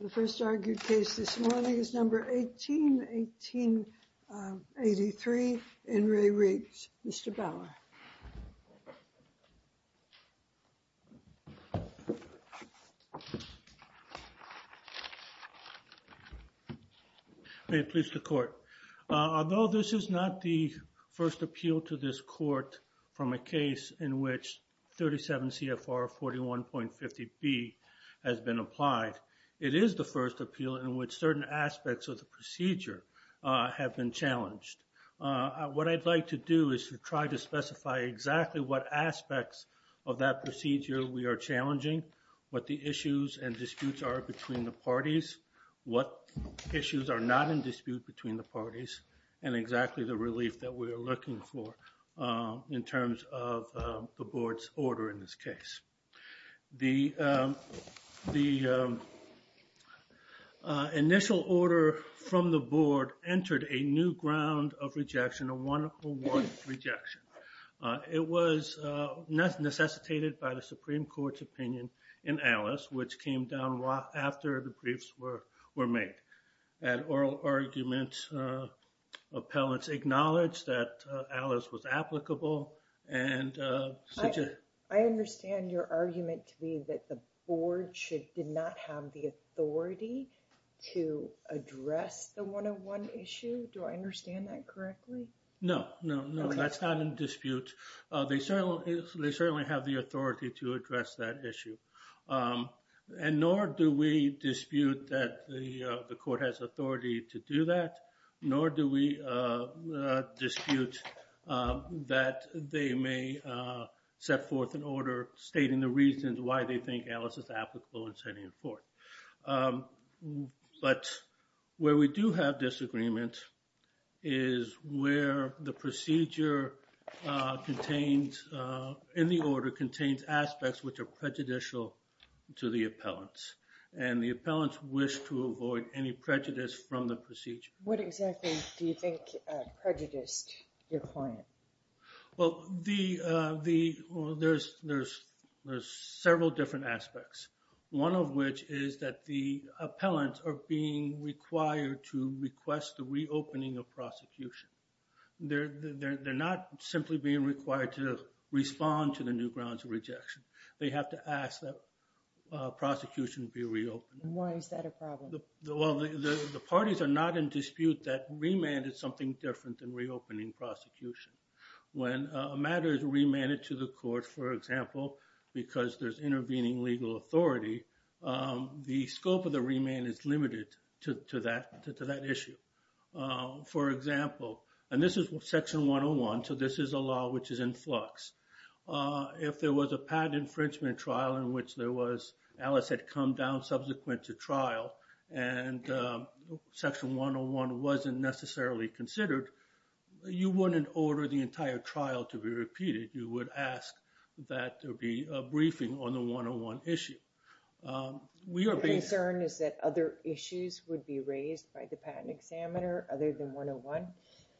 The first argued case this morning is number 181883 in Re Riggs. Mr. Bauer. May it please the court. Although this is not the first appeal to this court from a It is the first appeal in which certain aspects of the procedure have been challenged. What I'd like to do is to try to specify exactly what aspects of that procedure we are challenging, what the issues and disputes are between the parties, what issues are not in dispute between the parties. And exactly the relief that we are looking for in terms of the board's order in this case. The initial order from the board entered a new ground of rejection, a one for one rejection. It was necessitated by the Supreme Court's opinion in Alice, which came down after the briefs were made. At oral arguments, appellants acknowledged that Alice was applicable. I understand your argument to be that the board did not have the authority to address the one on one issue. Do I understand that correctly? No, no, no, that's not in dispute. They certainly have the authority to address that issue. And nor do we dispute that the court has authority to do that, nor do we dispute that they may set forth an order stating the reasons why they think Alice is applicable and sending it forth. But where we do have disagreement is where the procedure in the order contains aspects which are prejudicial to the appellants. And the appellants wish to avoid any prejudice from the procedure. What exactly do you think prejudiced your client? Well, there's several different aspects. One of which is that the appellants are being required to request the reopening of prosecution. They're not simply being required to respond to the new grounds of rejection. They have to ask that prosecution be reopened. Why is that a problem? Well, the parties are not in dispute that remand is something different than reopening prosecution. When a matter is remanded to the court, for example, because there's intervening legal authority, the scope of the remand is limited to that issue. For example, and this is Section 101, so this is a law which is in flux. If there was a patent infringement trial in which Alice had come down subsequent to trial and Section 101 wasn't necessarily considered, you wouldn't order the entire trial to be repeated. You would ask that there be a briefing on the 101 issue. Your concern is that other issues would be raised by the patent examiner other than 101?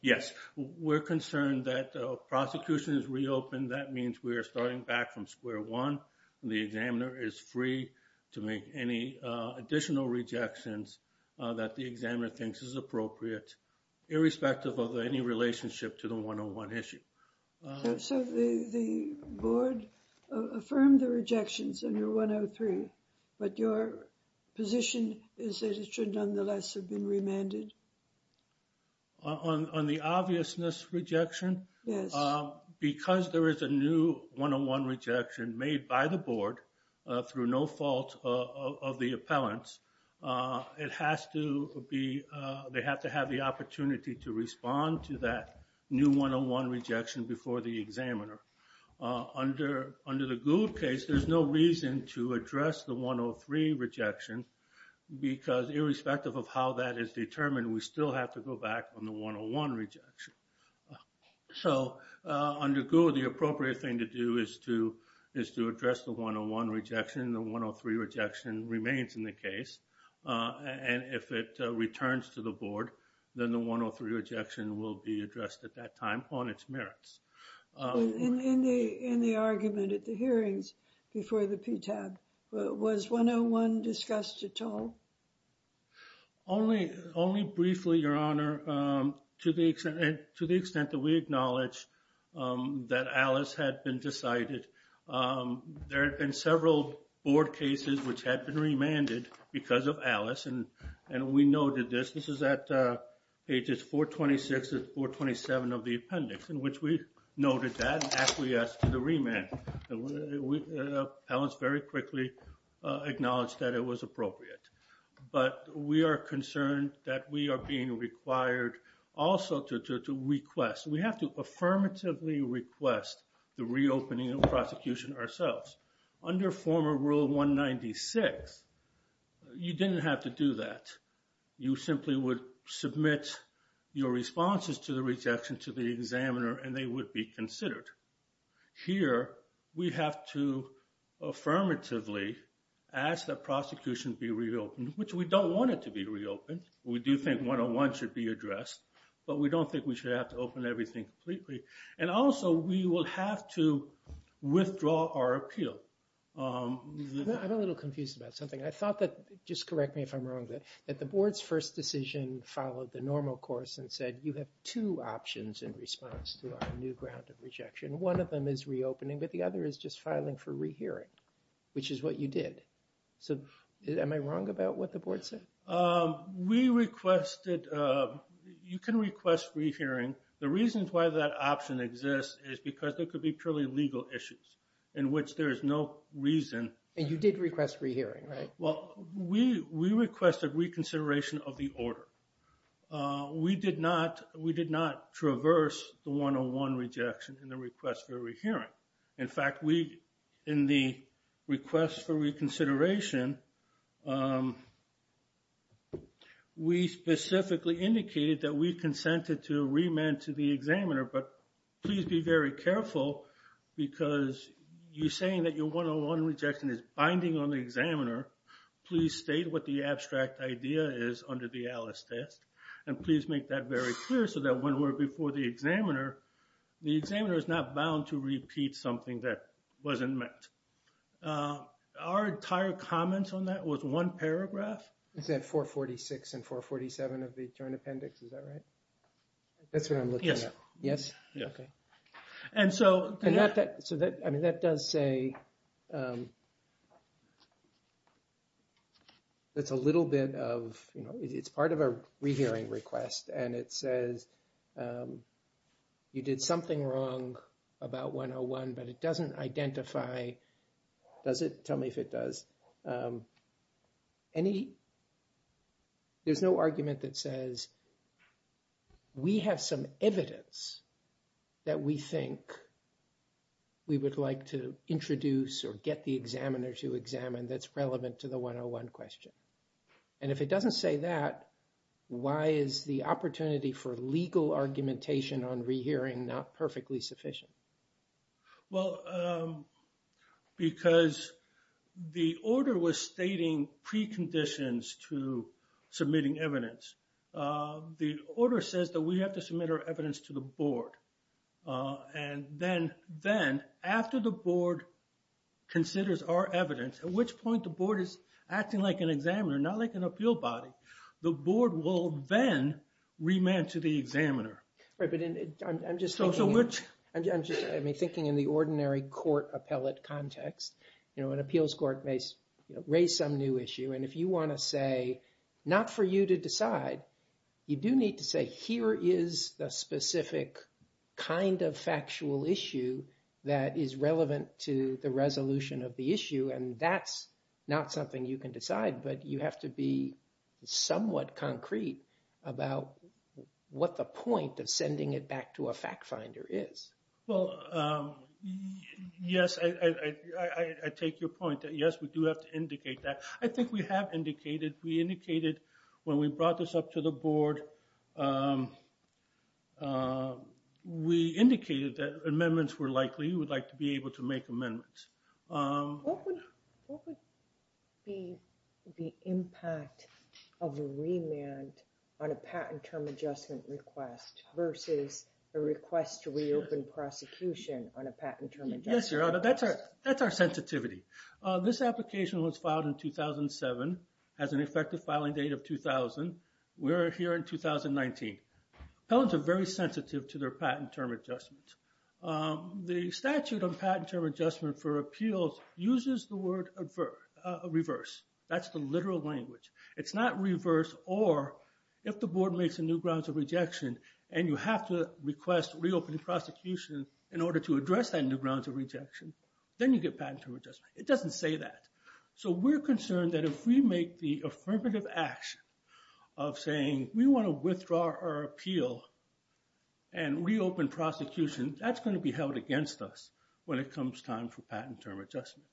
Yes, we're concerned that prosecution is reopened. That means we are starting back from square one. The examiner is free to make any additional rejections that the examiner thinks is appropriate, irrespective of any relationship to the 101 issue. So the board affirmed the rejections under 103, but your position is that it should nonetheless have been remanded? On the obviousness rejection? Yes. Because there is a new 101 rejection made by the board through no fault of the appellants, it has to be, they have to have the opportunity to respond to that new 101 rejection before the examiner. Under the Gould case, there's no reason to address the 103 rejection, because irrespective of how that is determined, we still have to go back on the 101 rejection. So under Gould, the appropriate thing to do is to address the 101 rejection. The 103 rejection remains in the case. And if it returns to the board, then the 103 rejection will be addressed at that time on its merits. In the argument at the hearings before the PTAB, was 101 discussed at all? Only briefly, Your Honor, to the extent that we acknowledge that Alice had been decided. There had been several board cases which had been remanded because of Alice, and we noted this. This is at pages 426 and 427 of the appendix, in which we noted that and actually asked for the remand. Appellants very quickly acknowledged that it was appropriate. But we are concerned that we are being required also to request. We have to affirmatively request the reopening of prosecution ourselves. Under former Rule 196, you didn't have to do that. You simply would submit your responses to the rejection to the examiner, and they would be considered. Here, we have to affirmatively ask that prosecution be reopened, which we don't want it to be reopened. We do think 101 should be addressed, but we don't think we should have to open everything completely. And also, we will have to withdraw our appeal. I'm a little confused about something. I thought that, just correct me if I'm wrong, that the board's first decision followed the normal course and said, you have two options in response to our new ground of rejection. One of them is reopening, but the other is just filing for rehearing, which is what you did. So, am I wrong about what the board said? We requested, you can request rehearing. The reasons why that option exists is because there could be purely legal issues in which there is no reason. And you did request rehearing, right? Well, we requested reconsideration of the order. We did not traverse the 101 rejection in the request for rehearing. In fact, in the request for reconsideration, we specifically indicated that we consented to remand to the examiner. But please be very careful, because you're saying that your 101 rejection is binding on the examiner. Please state what the abstract idea is under the ALICE test. And please make that very clear, so that when we're before the examiner, the examiner is not bound to repeat something that wasn't met. Our entire comments on that was one paragraph. Is that 446 and 447 of the Joint Appendix, is that right? That's what I'm looking at. Yes. Yes? Yes. And so... And that does say... It's a little bit of, you know, it's part of a rehearing request. And it says, you did something wrong about 101, but it doesn't identify... Does it? Tell me if it does. Any... There's no argument that says, we have some evidence that we think we would like to introduce or get the examiner to examine that's relevant to the 101 question. And if it doesn't say that, why is the opportunity for legal argumentation on rehearing not perfectly sufficient? Well, because the order was stating preconditions to submitting evidence. The order says that we have to submit our evidence to the board. And then, after the board considers our evidence, at which point the board is acting like an examiner, not like an appeal body, the board will then remand to the examiner. Right, but I'm just thinking in the ordinary court appellate context. You know, an appeals court may raise some new issue. And if you want to say, not for you to decide, you do need to say, here is the specific kind of factual issue that is relevant to the resolution of the issue. And that's not something you can decide. But you have to be somewhat concrete about what the point of sending it back to a fact finder is. Well, yes, I take your point that, yes, we do have to indicate that. I think we have indicated, we indicated when we brought this up to the board, we indicated that amendments were likely, we would like to be able to make amendments. What would be the impact of a remand on a patent term adjustment request versus a request to reopen prosecution on a patent term adjustment request? Yes, Your Honor, that's our sensitivity. This application was filed in 2007, has an effective filing date of 2000. We are here in 2019. Appellants are very sensitive to their patent term adjustments. The statute on patent term adjustment for appeals uses the word reverse. That's the literal language. It's not reverse or if the board makes a new grounds of rejection and you have to request reopening prosecution in order to address that new grounds of rejection, then you get patent term adjustment. It doesn't say that. So we're concerned that if we make the affirmative action of saying, we want to withdraw our appeal and reopen prosecution, that's going to be held against us when it comes time for patent term adjustment.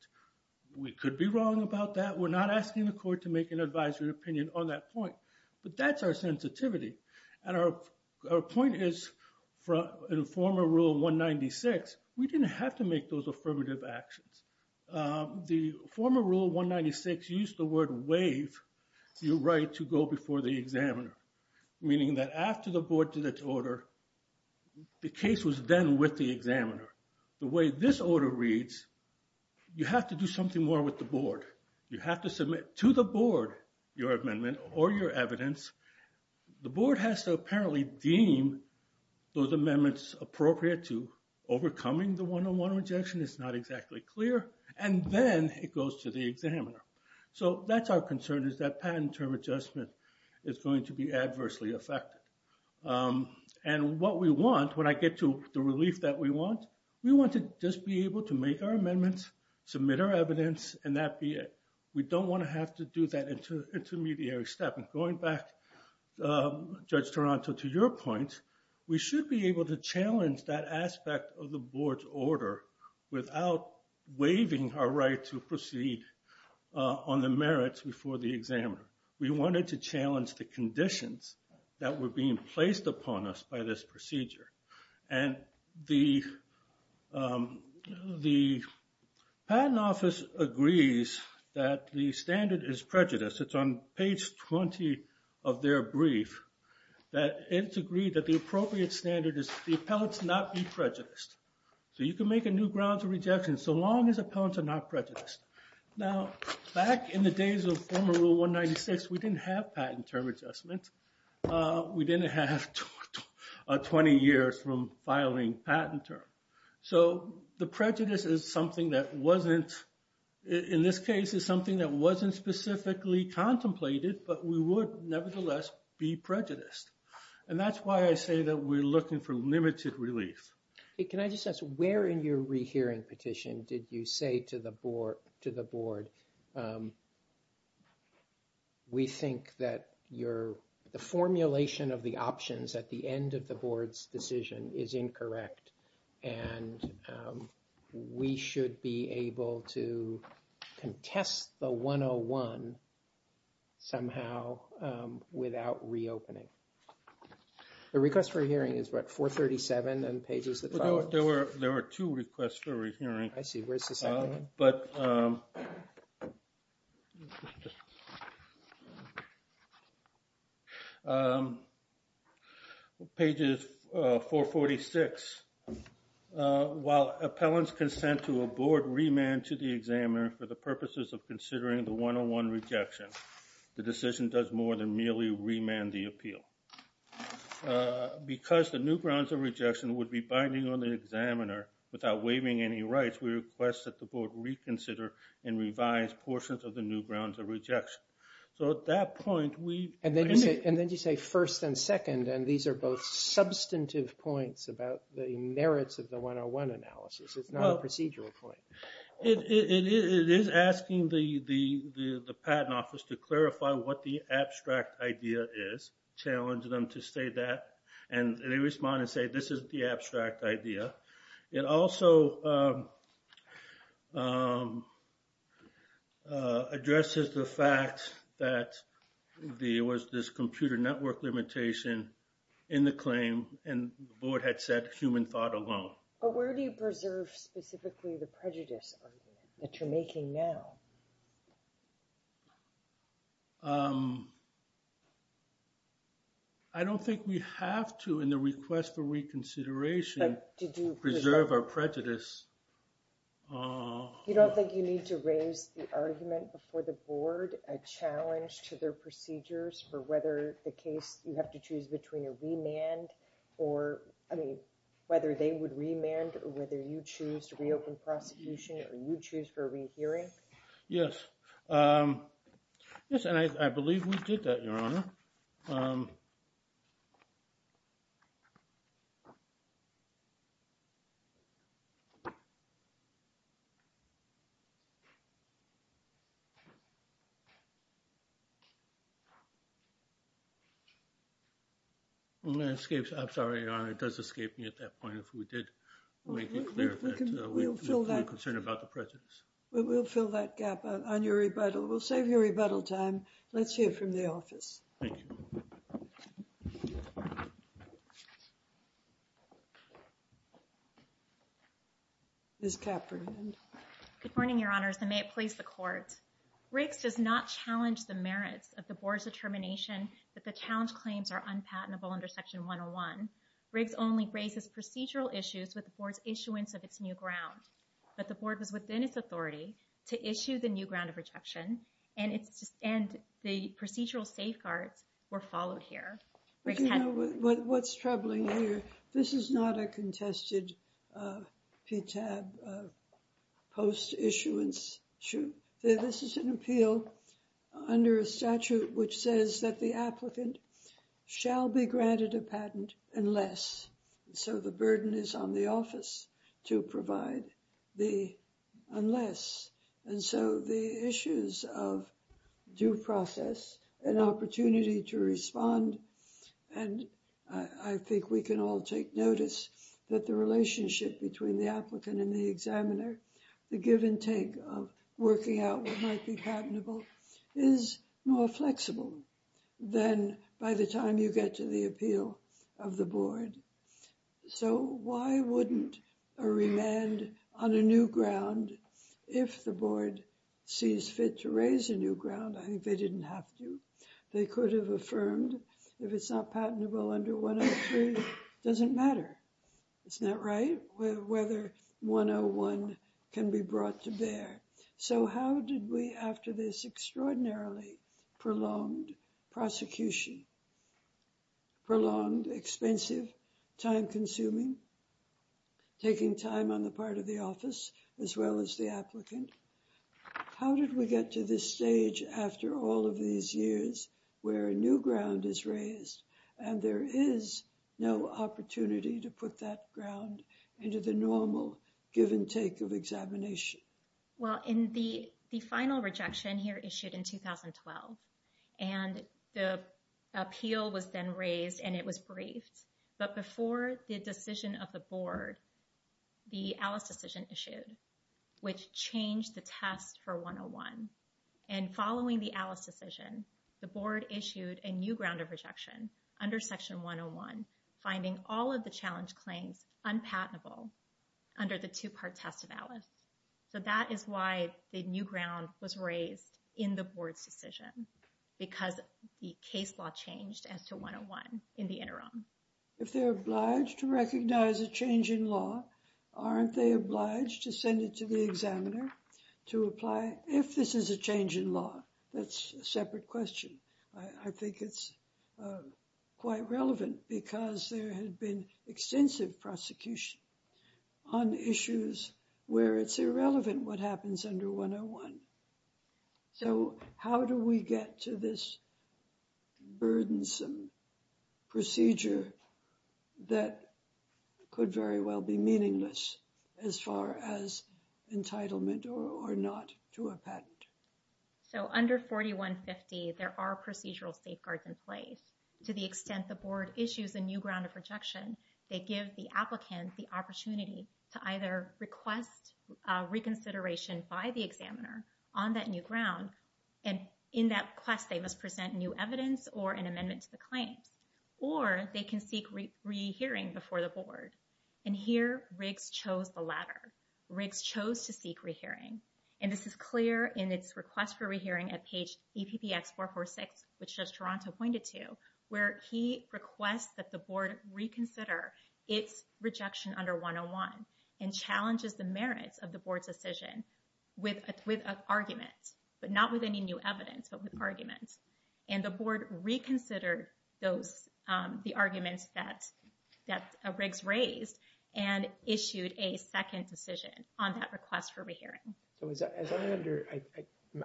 We could be wrong about that. We're not asking the court to make an advisory opinion on that point. But that's our sensitivity. And our point is, in former Rule 196, we didn't have to make those affirmative actions. The former Rule 196 used the word waive your right to go before the examiner, meaning that after the board did its order, the case was then with the examiner. The way this order reads, you have to do something more with the board. You have to submit to the board your amendment or your evidence. The board has to apparently deem those amendments appropriate to overcoming the one-on-one rejection. It's not exactly clear. And then it goes to the examiner. So that's our concern is that patent term adjustment is going to be adversely affected. And what we want, when I get to the relief that we want, we want to just be able to make our amendments, submit our evidence, and that be it. We don't want to have to do that intermediary step. And going back, Judge Toronto, to your point, we should be able to challenge that aspect of the board's order without waiving our right to proceed on the merits before the examiner. We wanted to challenge the conditions that were being placed upon us by this procedure. And the patent office agrees that the standard is prejudice. It's on page 20 of their brief. It's agreed that the appropriate standard is the appellants not be prejudiced. So you can make a new grounds of rejection so long as appellants are not prejudiced. Now, back in the days of former Rule 196, we didn't have patent term adjustment. We didn't have 20 years from filing patent term. So the prejudice is something that wasn't, in this case, specifically contemplated, but we would nevertheless be prejudiced. And that's why I say that we're looking for limited relief. Can I just ask, where in your rehearing petition did you say to the board, we think that the formulation of the options at the end of the board's decision is incorrect, and we should be able to contest the 101 somehow without reopening? The request for a hearing is what, 437 and pages that follow? There were two requests for a hearing. I see. Where's the second one? But pages 446. While appellants consent to a board remand to the examiner for the purposes of considering the 101 rejection, the decision does more than merely remand the appeal. Because the new grounds of rejection would be binding on the examiner without waiving any rights, we request that the board reconsider and revise portions of the new grounds of rejection. So at that point, we... And then you say first and second, and these are both substantive points about the merits of the 101 analysis. It's not a procedural point. It is asking the patent office to clarify what the abstract idea is, challenge them to say that, and they respond and say this is the abstract idea. It also addresses the fact that there was this computer network limitation in the claim, and the board had said human thought alone. But where do you preserve specifically the prejudice argument that you're making now? I don't think we have to in the request for reconsideration. Did you preserve our prejudice? You don't think you need to raise the argument before the board a challenge to their procedures for whether the case you have to choose between a remand or, I mean, whether they would remand or whether you choose to reopen prosecution or you choose for a rehearing? Yes. Yes, and I believe we did that, Your Honor. I'm sorry, Your Honor, it does escape me at that point if we did make it clear that we're concerned about the prejudice. Well, we'll fill that gap on your rebuttal. We'll save you rebuttal time. Let's hear from the office. Thank you. Ms. Cafferty. Good morning, Your Honors, and may it please the Court. Riggs does not challenge the merits of the board's determination that the challenge claims are unpatentable under Section 101. Riggs only raises procedural issues with the board's issuance of its new ground. But the board was within its authority to issue the new ground of rejection and the procedural safeguards were followed here. What's troubling here, this is not a contested PTAB post-issuance. This is an appeal under a statute which says that the applicant shall be granted a patent unless. So the burden is on the office to provide the unless. And so the issues of due process, an opportunity to respond, and I think we can all take notice that the relationship between the applicant and the examiner, the give and take of working out what might be patentable, is more flexible than by the time you get to the appeal of the board. So why wouldn't a remand on a new ground, if the board sees fit to raise a new ground, I think they didn't have to. They could have affirmed if it's not patentable under 103, it doesn't matter. Isn't that right? Whether 101 can be brought to bear. So how did we, after this extraordinarily prolonged prosecution, prolonged, expensive, time-consuming, taking time on the part of the office, as well as the applicant, how did we get to this stage after all of these years where a new ground is raised and there is no opportunity to put that ground into the normal give and take of examination? Well, in the final rejection here issued in 2012, and the appeal was then raised and it was briefed. But before the decision of the board, the Alice decision issued, which changed the test for 101. And following the Alice decision, the board issued a new ground of rejection under Section 101, finding all of the challenge claims unpatentable under the two-part test of Alice. So that is why the new ground was raised in the board's decision, because the case law changed as to 101 in the interim. If they're obliged to recognize a change in law, aren't they obliged to send it to the examiner to apply if this is a change in law? That's a separate question. I think it's quite relevant because there had been extensive prosecution on issues where it's irrelevant what happens under 101. So how do we get to this burdensome procedure that could very well be meaningless as far as entitlement or not to a patent? So under 4150, there are procedural safeguards in place. To the extent the board issues a new ground of rejection, they give the applicant the opportunity to either request reconsideration by the examiner on that new ground, and in that quest they must present new evidence or an amendment to the claims, or they can seek rehearing before the board. And here Riggs chose the latter. Riggs chose to seek rehearing. And this is clear in its request for rehearing at page EPPX446, which just Toronto pointed to, where he requests that the board reconsider its rejection under 101 and challenges the merits of the board's decision with an argument, but not with any new evidence, but with arguments. And the board reconsidered the arguments that Riggs raised and issued a second decision on that request for rehearing.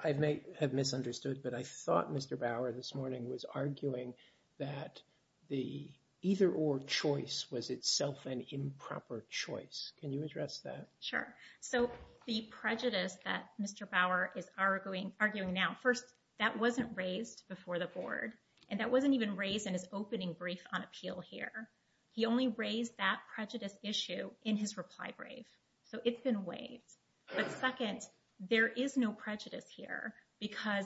I may have misunderstood, but I thought Mr. Bauer this morning was arguing that the either-or choice was itself an improper choice. Can you address that? Sure. So the prejudice that Mr. Bauer is arguing now, first, that wasn't raised before the board, and that wasn't even raised in his opening brief on appeal here. He only raised that prejudice issue in his reply brief. So it's been waived. But second, there is no prejudice here because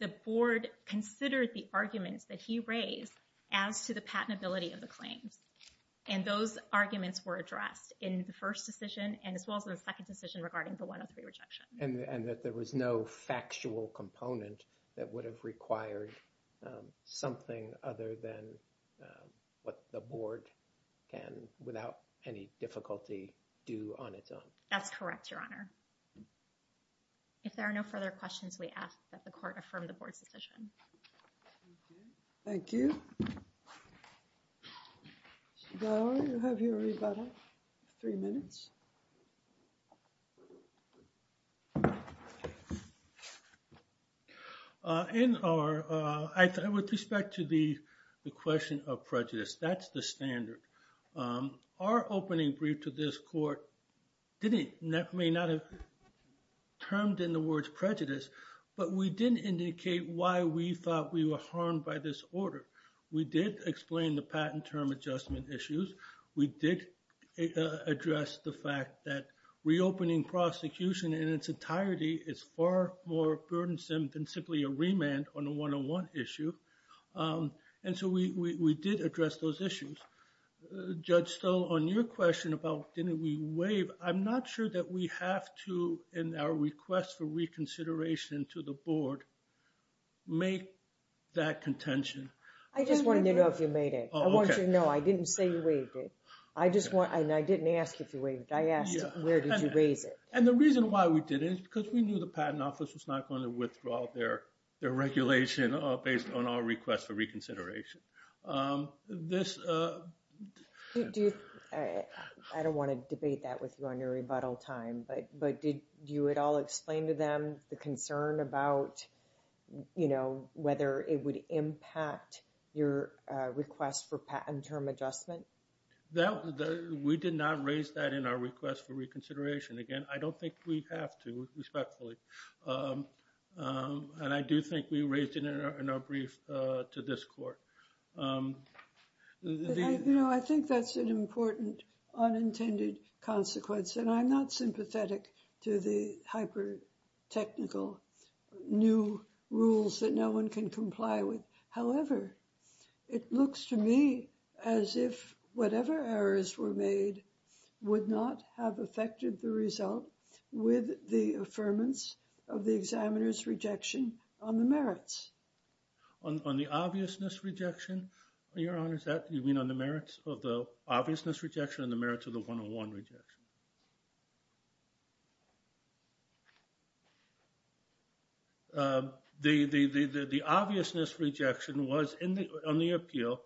the board considered the arguments that he raised as to the patentability of the claims. And those arguments were addressed in the first decision and as well as the second decision regarding the 103 rejection. And that there was no factual component that would have required something other than what the board can, without any difficulty, do on its own. That's correct, Your Honor. If there are no further questions, we ask that the court affirm the board's decision. Thank you. Mr. Bauer, you have your rebuttal. Three minutes. In our, with respect to the question of prejudice, that's the standard. Our opening brief to this court didn't, may not have termed in the words prejudice, but we did indicate why we thought we were harmed by this order. We did explain the patent term adjustment issues. We did address the fact that reopening prosecution in its entirety is far more burdensome than simply a remand on a 101 issue. And so we did address those issues. Judge Stoll, on your question about didn't we waive, I'm not sure that we have to, in our request for reconsideration to the board, make that contention. I just wanted to know if you made it. I want you to know I didn't say you waived it. I just want, and I didn't ask if you waived it. I asked where did you raise it. And the reason why we did it is because we knew the patent office was not going to withdraw their regulation based on our request for reconsideration. This, I don't want to debate that with you on your rebuttal time, but did you at all explain to them the concern about, you know, whether it would impact your request for patent term adjustment? We did not raise that in our request for reconsideration. Again, I don't think we have to, respectfully. And I do think we raised it in our brief to this court. You know, I think that's an important unintended consequence, and I'm not sympathetic to the hyper-technical new rules that no one can comply with. However, it looks to me as if whatever errors were made would not have affected the result with the affirmance of the examiner's rejection on the merits. On the obviousness rejection, Your Honor, is that you mean on the merits of the obviousness rejection and the merits of the 101 rejection? The obviousness rejection was, on the appeal,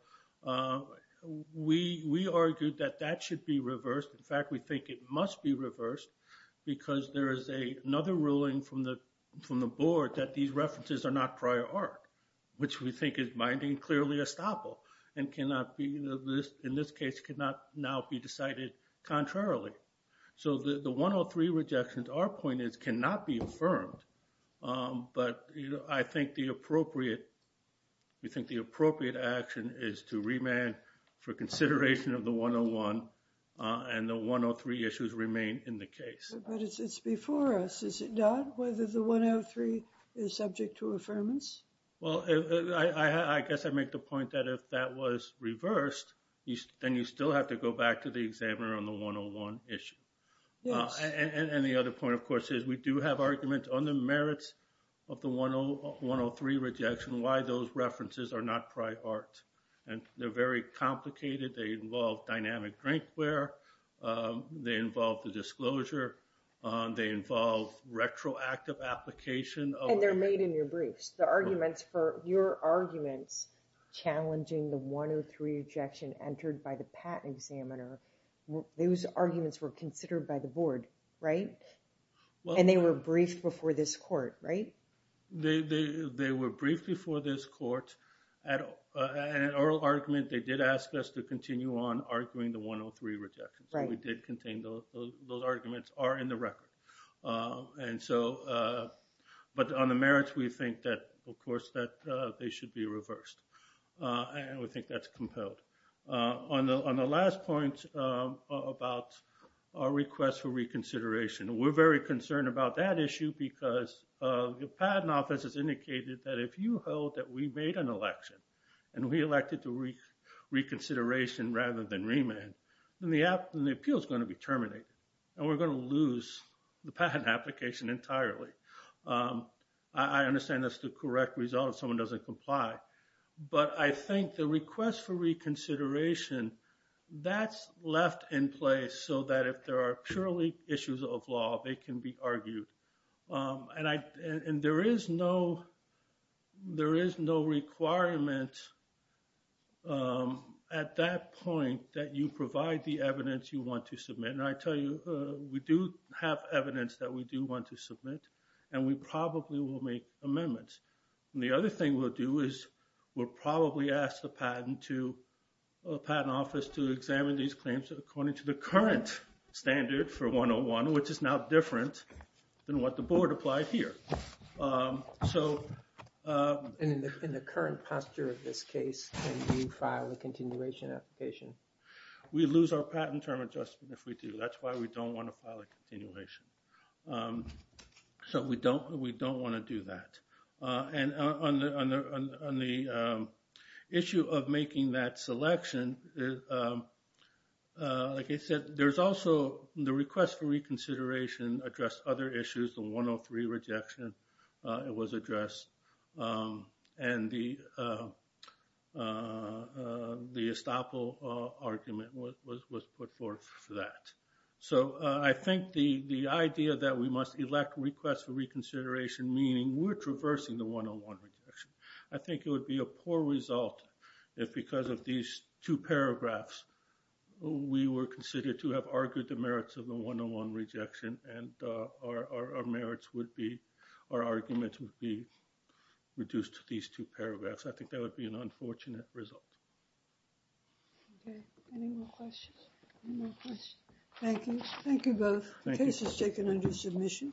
we argued that that should be reversed. In fact, we think it must be reversed because there is another ruling from the board that these references are not prior art, which we think is minding clearly estoppel and cannot be, in this case, cannot now be decided contrarily. So the 103 rejections, our point is, cannot be affirmed. But I think the appropriate action is to remand for consideration of the 101, and the 103 issues remain in the case. But it's before us, is it not, whether the 103 is subject to affirmance? Well, I guess I make the point that if that was reversed, then you still have to go back to the examiner on the 101 issue. Yes. And the other point, of course, is we do have arguments on the merits of the 103 rejection, why those references are not prior art. And they're very complicated. They involve dynamic drinkware. They involve the disclosure. They involve retroactive application. And they're made in your briefs. The arguments for your arguments challenging the 103 rejection entered by the patent examiner, those arguments were considered by the board, right? And they were briefed before this court, right? They were briefed before this court. At oral argument, they did ask us to continue on arguing the 103 rejection. So we did continue. Those arguments are in the record. And so but on the merits, we think that, of course, that they should be reversed. And we think that's compelled. On the last point about our request for reconsideration, we're very concerned about that issue because the patent office has indicated that if you hold that we made an election and we elected to reconsideration rather than remand, then the appeal is going to be terminated. And we're going to lose the patent application entirely. I understand that's the correct result if someone doesn't comply. But I think the request for reconsideration, that's left in place so that if there are purely issues of law, they can be argued. And there is no requirement at that point that you provide the evidence you want to submit. And I tell you, we do have evidence that we do want to submit. And we probably will make amendments. And the other thing we'll do is we'll probably ask the patent office to examine these claims according to the current standard for 101, which is now different than what the board applied here. And in the current posture of this case, can you file a continuation application? We lose our patent term adjustment if we do. That's why we don't want to file a continuation. So we don't want to do that. And on the issue of making that selection, like I said, there's also the request for reconsideration addressed other issues. The 103 rejection, it was addressed. And the estoppel argument was put forth for that. So I think the idea that we must elect requests for reconsideration, meaning we're traversing the 101 rejection. I think it would be a poor result if because of these two paragraphs, we were considered to have argued the merits of the 101 rejection, and our argument would be reduced to these two paragraphs. I think that would be an unfortunate result. Okay. Any more questions? Any more questions? Thank you. Thank you both. The case is taken under submission. Thank you.